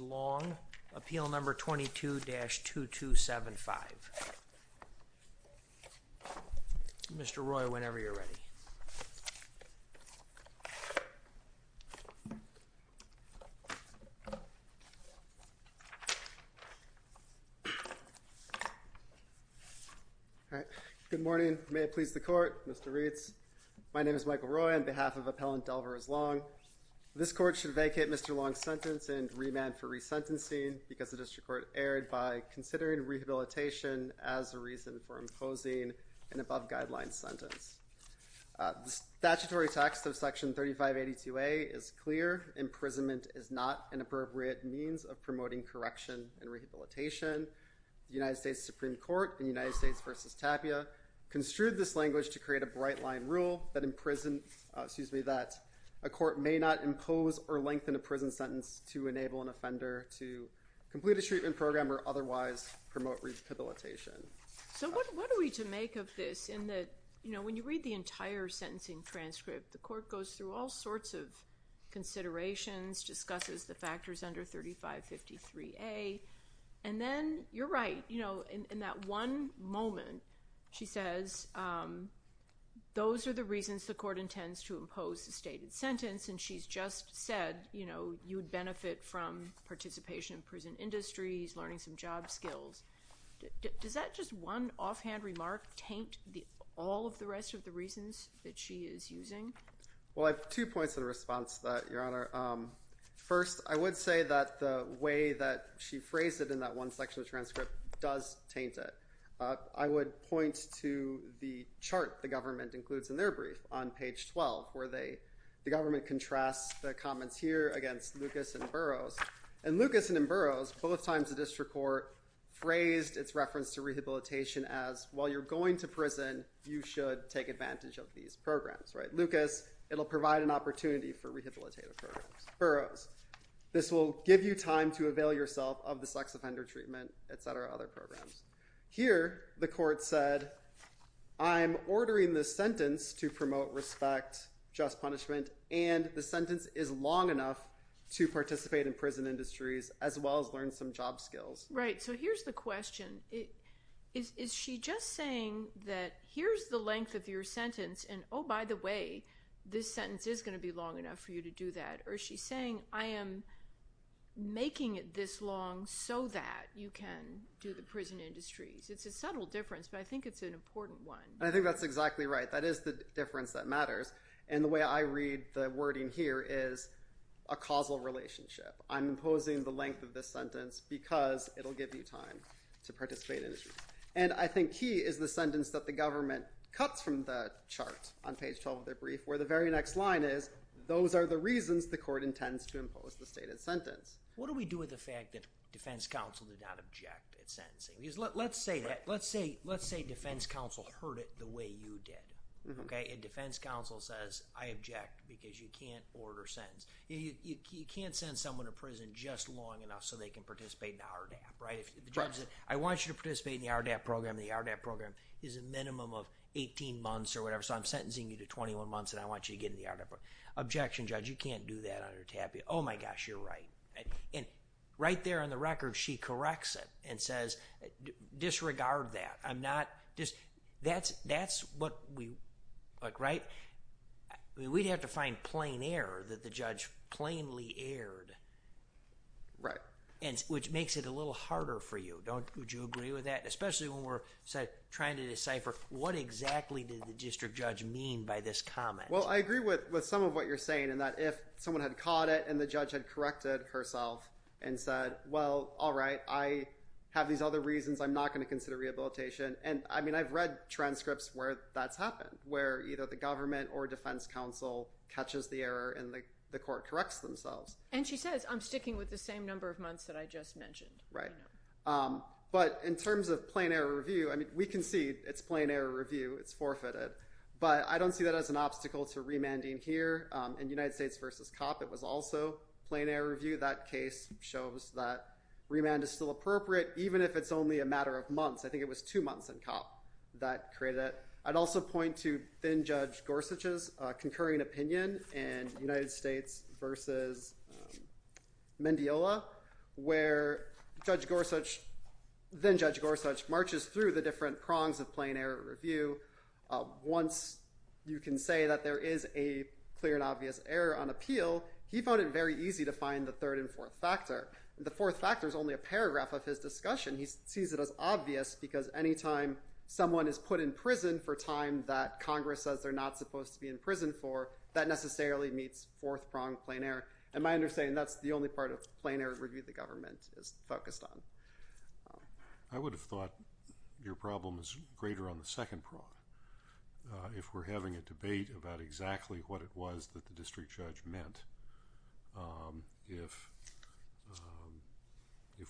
Long, Appeal No. 22-2275. Mr. Roy, whenever you're ready. Good morning. May it please the Court, Mr. Reitz. My name is Michael Roy on behalf of Appellant Delvarez Long. This Court should vacate Mr. Long's sentence and remand for resentencing because the District Court erred by considering rehabilitation as a reason for imposing an above-guidelines sentence. The statutory text of Section 3582A is clear. Imprisonment is not an appropriate means of promoting correction and rehabilitation. The United States Supreme Court in United States v. Tapia construed this language to create a bright-line rule that a court may not impose or lengthen a prison sentence to enable an offender to complete a treatment program or otherwise promote rehabilitation. So what are we to make of this in that, you know, when you read the entire sentencing transcript, the Court goes through all sorts of considerations, discusses the factors under 3553A, and then you're right. You know, in that one moment she says, those are the reasons the Court intends to impose the stated sentence, and she's just said, you know, you would benefit from participation in prison industries, learning some job skills. Does that just one offhand remark taint all of the rest of the reasons that she is using? Well, I have two points in response to that, Your Honor. First, I would say that the way that she phrased it in that one section of the transcript does taint it. I would point to the chart the government includes in their brief on page 12, where the government contrasts the comments here against Lucas and Burroughs. And Lucas and Burroughs, both times the district court phrased its reference to rehabilitation as, while you're going to prison, you should take advantage of these programs, right? Lucas, it will provide an opportunity for rehabilitative programs. Burroughs, this will give you time to avail yourself of the sex offender treatment, et cetera, other programs. Here, the Court said, I'm ordering this sentence to promote respect, just punishment, and the sentence is long enough to participate in prison industries as well as learn some job skills. Right, so here's the question. Is she just saying that here's the length of your sentence, and oh, by the way, this sentence is going to be long enough for you to do that? Or is she saying, I am making it this long so that you can do the prison industries? It's a subtle difference, but I think it's an important one. I think that's exactly right. That is the difference that matters. And the way I read the wording here is a causal relationship. I'm imposing the length of this sentence because it will give you time to participate in industries. And I think key is the sentence that the government cuts from the chart on page 12 of their brief, where the very next line is, those are the reasons the Court intends to impose the stated sentence. What do we do with the fact that defense counsel did not object at sentencing? Because let's say defense counsel heard it the way you did. And defense counsel says, I object because you can't order sentence. You can't send someone to prison just long enough so they can participate in RDAP, right? If the judge says, I want you to participate in the RDAP program, the RDAP program is a minimum of 18 months or whatever, so I'm sentencing you to 21 months and I want you to get in the RDAP program. Objection, judge, you can't do that under TAPIA. Oh, my gosh, you're right. And right there on the record she corrects it and says, disregard that. I'm not just – that's what we – look, right? We'd have to find plain error that the judge plainly erred. Right. Which makes it a little harder for you, don't you? Would you agree with that? Especially when we're trying to decipher what exactly did the district judge mean by this comment? Well, I agree with some of what you're saying in that if someone had caught it and the judge had corrected herself and said, well, all right, I have these other reasons, I'm not going to consider rehabilitation. And, I mean, I've read transcripts where that's happened, where either the government or defense counsel catches the error and the court corrects themselves. And she says, I'm sticking with the same number of months that I just mentioned. Right. But in terms of plain error review, I mean, we can see it's plain error review, it's forfeited. But I don't see that as an obstacle to remanding here. In United States v. Copp, it was also plain error review. That case shows that remand is still appropriate, even if it's only a matter of months. I think it was two months in Copp that created it. I'd also point to then-Judge Gorsuch's concurring opinion in United States v. Mendiola where Judge Gorsuch – then-Judge Gorsuch marches through the different prongs of plain error review. Once you can say that there is a clear and obvious error on appeal, he found it very easy to find the third and fourth factor. The fourth factor is only a paragraph of his discussion. He sees it as obvious because any time someone is put in prison for time that Congress says they're not supposed to be in prison for, that necessarily meets fourth prong plain error. And my understanding, that's the only part of plain error review the government is focused on. I would have thought your problem is greater on the second prong. If we're having a debate about exactly what it was that the district judge meant, if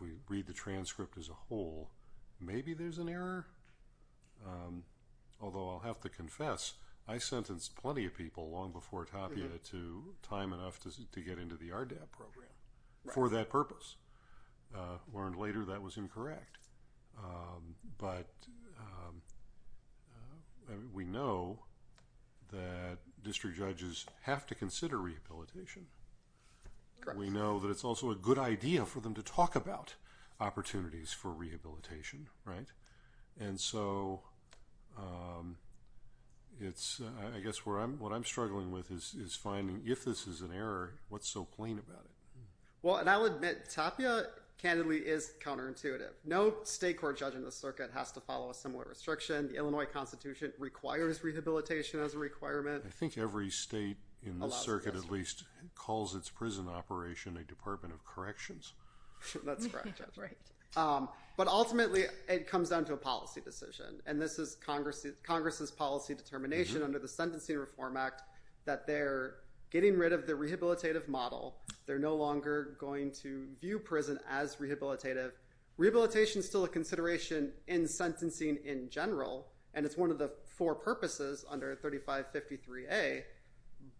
we read the transcript as a whole, maybe there's an error. Although I'll have to confess, I sentenced plenty of people long before Tapia to time enough to get into the RDAB program for that purpose. Learned later that was incorrect. But we know that district judges have to consider rehabilitation. We know that it's also a good idea for them to talk about opportunities for rehabilitation, right? And so I guess what I'm struggling with is finding if this is an error, what's so plain about it? Well, and I'll admit Tapia candidly is counterintuitive. No state court judge in the circuit has to follow a similar restriction. The Illinois Constitution requires rehabilitation as a requirement. I think every state in the circuit at least calls its prison operation a department of corrections. That's correct. But ultimately it comes down to a policy decision, and this is Congress's policy determination under the Sentencing Reform Act that they're getting rid of the rehabilitative model. They're no longer going to view prison as rehabilitative. Rehabilitation is still a consideration in sentencing in general, and it's one of the four purposes under 3553A,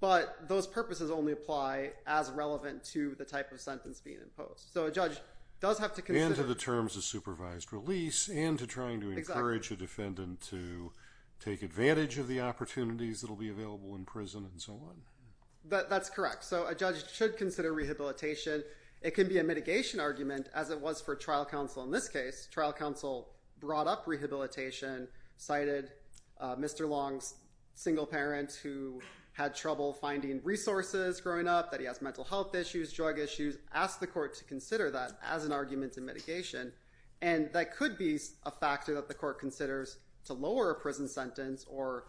but those purposes only apply as relevant to the type of sentence being imposed. So a judge does have to consider— And to the terms of supervised release and to trying to encourage a defendant to take advantage of the opportunities that will be available in prison and so on. That's correct. So a judge should consider rehabilitation. It can be a mitigation argument, as it was for trial counsel in this case. Trial counsel brought up rehabilitation, cited Mr. Long's single parent who had trouble finding resources growing up, that he has mental health issues, drug issues, asked the court to consider that as an argument in mitigation, and that could be a factor that the court considers to lower a prison sentence or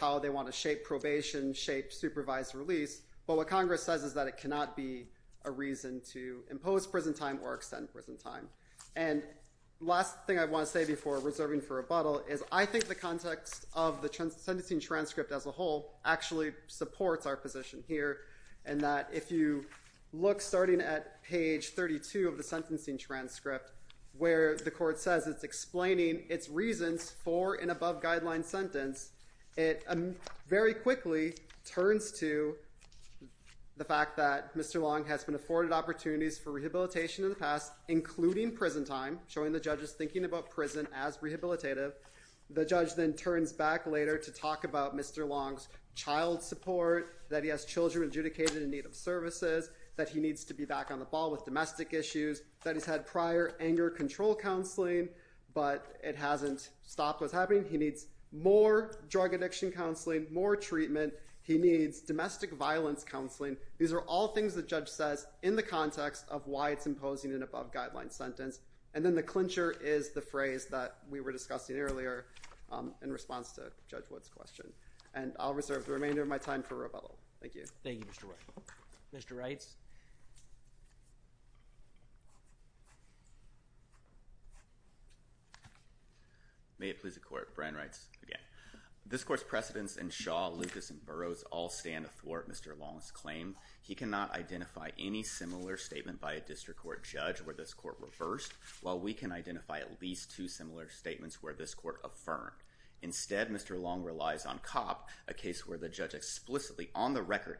how they want to shape probation, shape supervised release. But what Congress says is that it cannot be a reason to impose prison time or extend prison time. And last thing I want to say before reserving for rebuttal is I think the context of the sentencing transcript as a whole actually supports our position here in that if you look starting at page 32 of the sentencing transcript where the court says it's explaining its reasons for an above-guideline sentence, it very quickly turns to the fact that Mr. Long has been afforded opportunities for rehabilitation in the past, including prison time, showing the judge's thinking about prison as rehabilitative. The judge then turns back later to talk about Mr. Long's child support, that he has children adjudicated in need of services, that he needs to be back on the ball with domestic issues, that he's had prior anger control counseling, but it hasn't stopped what's happening. He needs more drug addiction counseling, more treatment. He needs domestic violence counseling. These are all things the judge says in the context of why it's imposing an above-guideline sentence. And then the clincher is the phrase that we were discussing earlier in response to Judge Wood's question. And I'll reserve the remainder of my time for rebuttal. Thank you. Thank you, Mr. Wright. Mr. Reitz. May it please the Court. Brian Reitz, again. This Court's precedents in Shaw, Lucas, and Burroughs all stand athwart Mr. Long's claim. He cannot identify any similar statement by a district court judge where this Court reversed, while we can identify at least two similar statements where this Court affirmed. Instead, Mr. Long relies on COPP,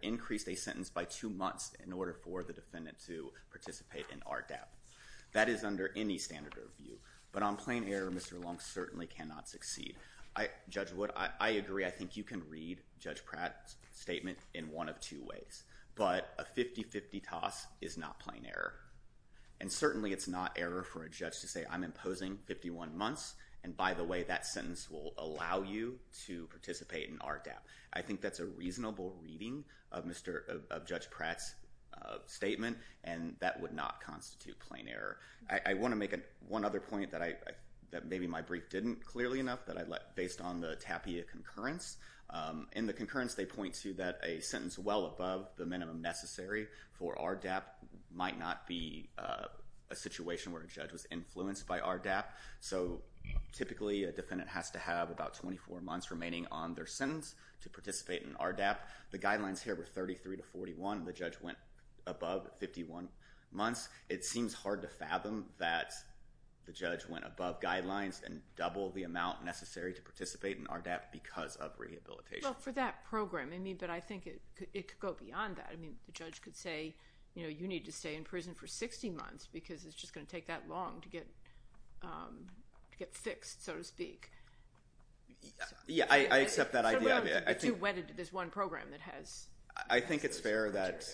increased a sentence by two months in order to reduce the sentence by two months. That is under any standard of review. But on plain error, Mr. Long certainly cannot succeed. Judge Wood, I agree. I think you can read Judge Pratt's statement in one of two ways. But a 50-50 toss is not plain error. And certainly it's not error for a judge to say, I'm imposing 51 months, and by the way that sentence will allow you to participate in RDAP. I think that's a reasonable reading of Judge Pratt's statement. And that would not constitute plain error. I want to make one other point that maybe my brief didn't clearly enough, that based on the Tapia concurrence, in the concurrence they point to that a sentence well above the minimum necessary for RDAP might not be a situation where a judge was influenced by RDAP. So typically a defendant has to have about 24 months remaining on their sentence to participate in RDAP. The guidelines here were 33 to 41. The judge went above 51 months. It seems hard to fathom that the judge went above guidelines and doubled the amount necessary to participate in RDAP because of rehabilitation. Well, for that program, I mean, but I think it could go beyond that. I mean, the judge could say, you know, you need to stay in prison for 60 months because it's just going to take that long to get fixed, so to speak. Yeah, I accept that idea. There's one program that has... I think it's fair that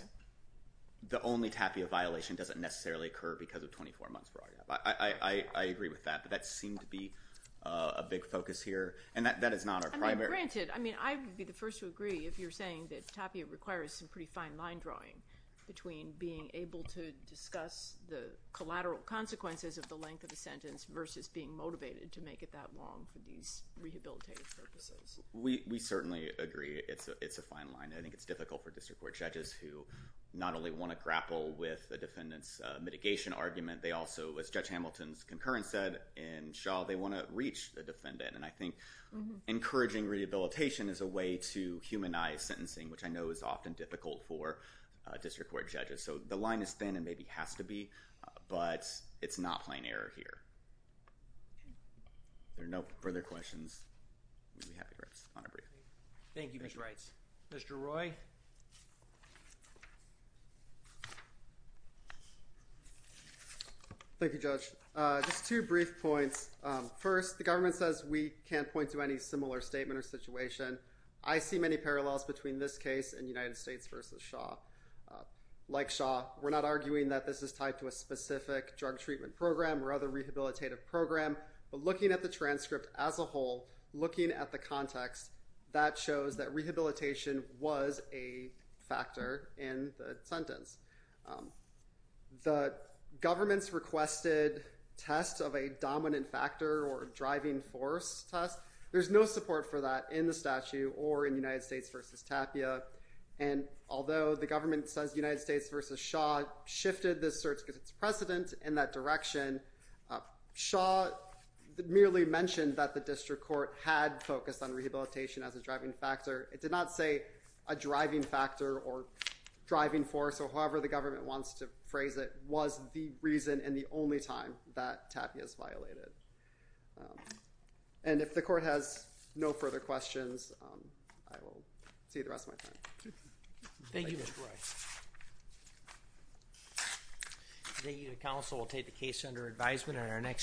the only Tapia violation doesn't necessarily occur because of 24 months for RDAP. I agree with that, but that seemed to be a big focus here. And that is not our primary... I mean, granted, I mean, I would be the first to agree if you're saying that Tapia requires some pretty fine line drawing between being able to discuss the collateral consequences of the length of the sentence versus being motivated to make it that long for these rehabilitative purposes. We certainly agree it's a fine line. I think it's difficult for district court judges who not only want to grapple with the defendant's mitigation argument, they also, as Judge Hamilton's concurrence said in Shaw, they want to reach the defendant. And I think encouraging rehabilitation is a way to humanize sentencing, which I know is often difficult for district court judges. So the line is thin and maybe has to be, but it's not plain error here. If there are no further questions, we'll be happy to respond. Thank you, Mr. Reitz. Mr. Roy? Thank you, Judge. Just two brief points. First, the government says we can't point to any similar statement or situation. I see many parallels between this case and United States v. Shaw. Like Shaw, we're not arguing that this is tied to a specific drug treatment program or other rehabilitative program. But looking at the transcript as a whole, looking at the context, that shows that rehabilitation was a factor in the sentence. The government's requested test of a dominant factor or driving force test, there's no support for that in the statute or in United States v. Tapia. And although the government says United States v. Shaw shifted this search because it's precedent in that direction, Shaw merely mentioned that the district court had focused on rehabilitation as a driving factor. It did not say a driving factor or driving force or however the government wants to phrase it was the reason and the only time that Tapia is violated. And if the court has no further questions, I will see you the rest of my time. Thank you, Mr. Roy. The council will take the case under advisement.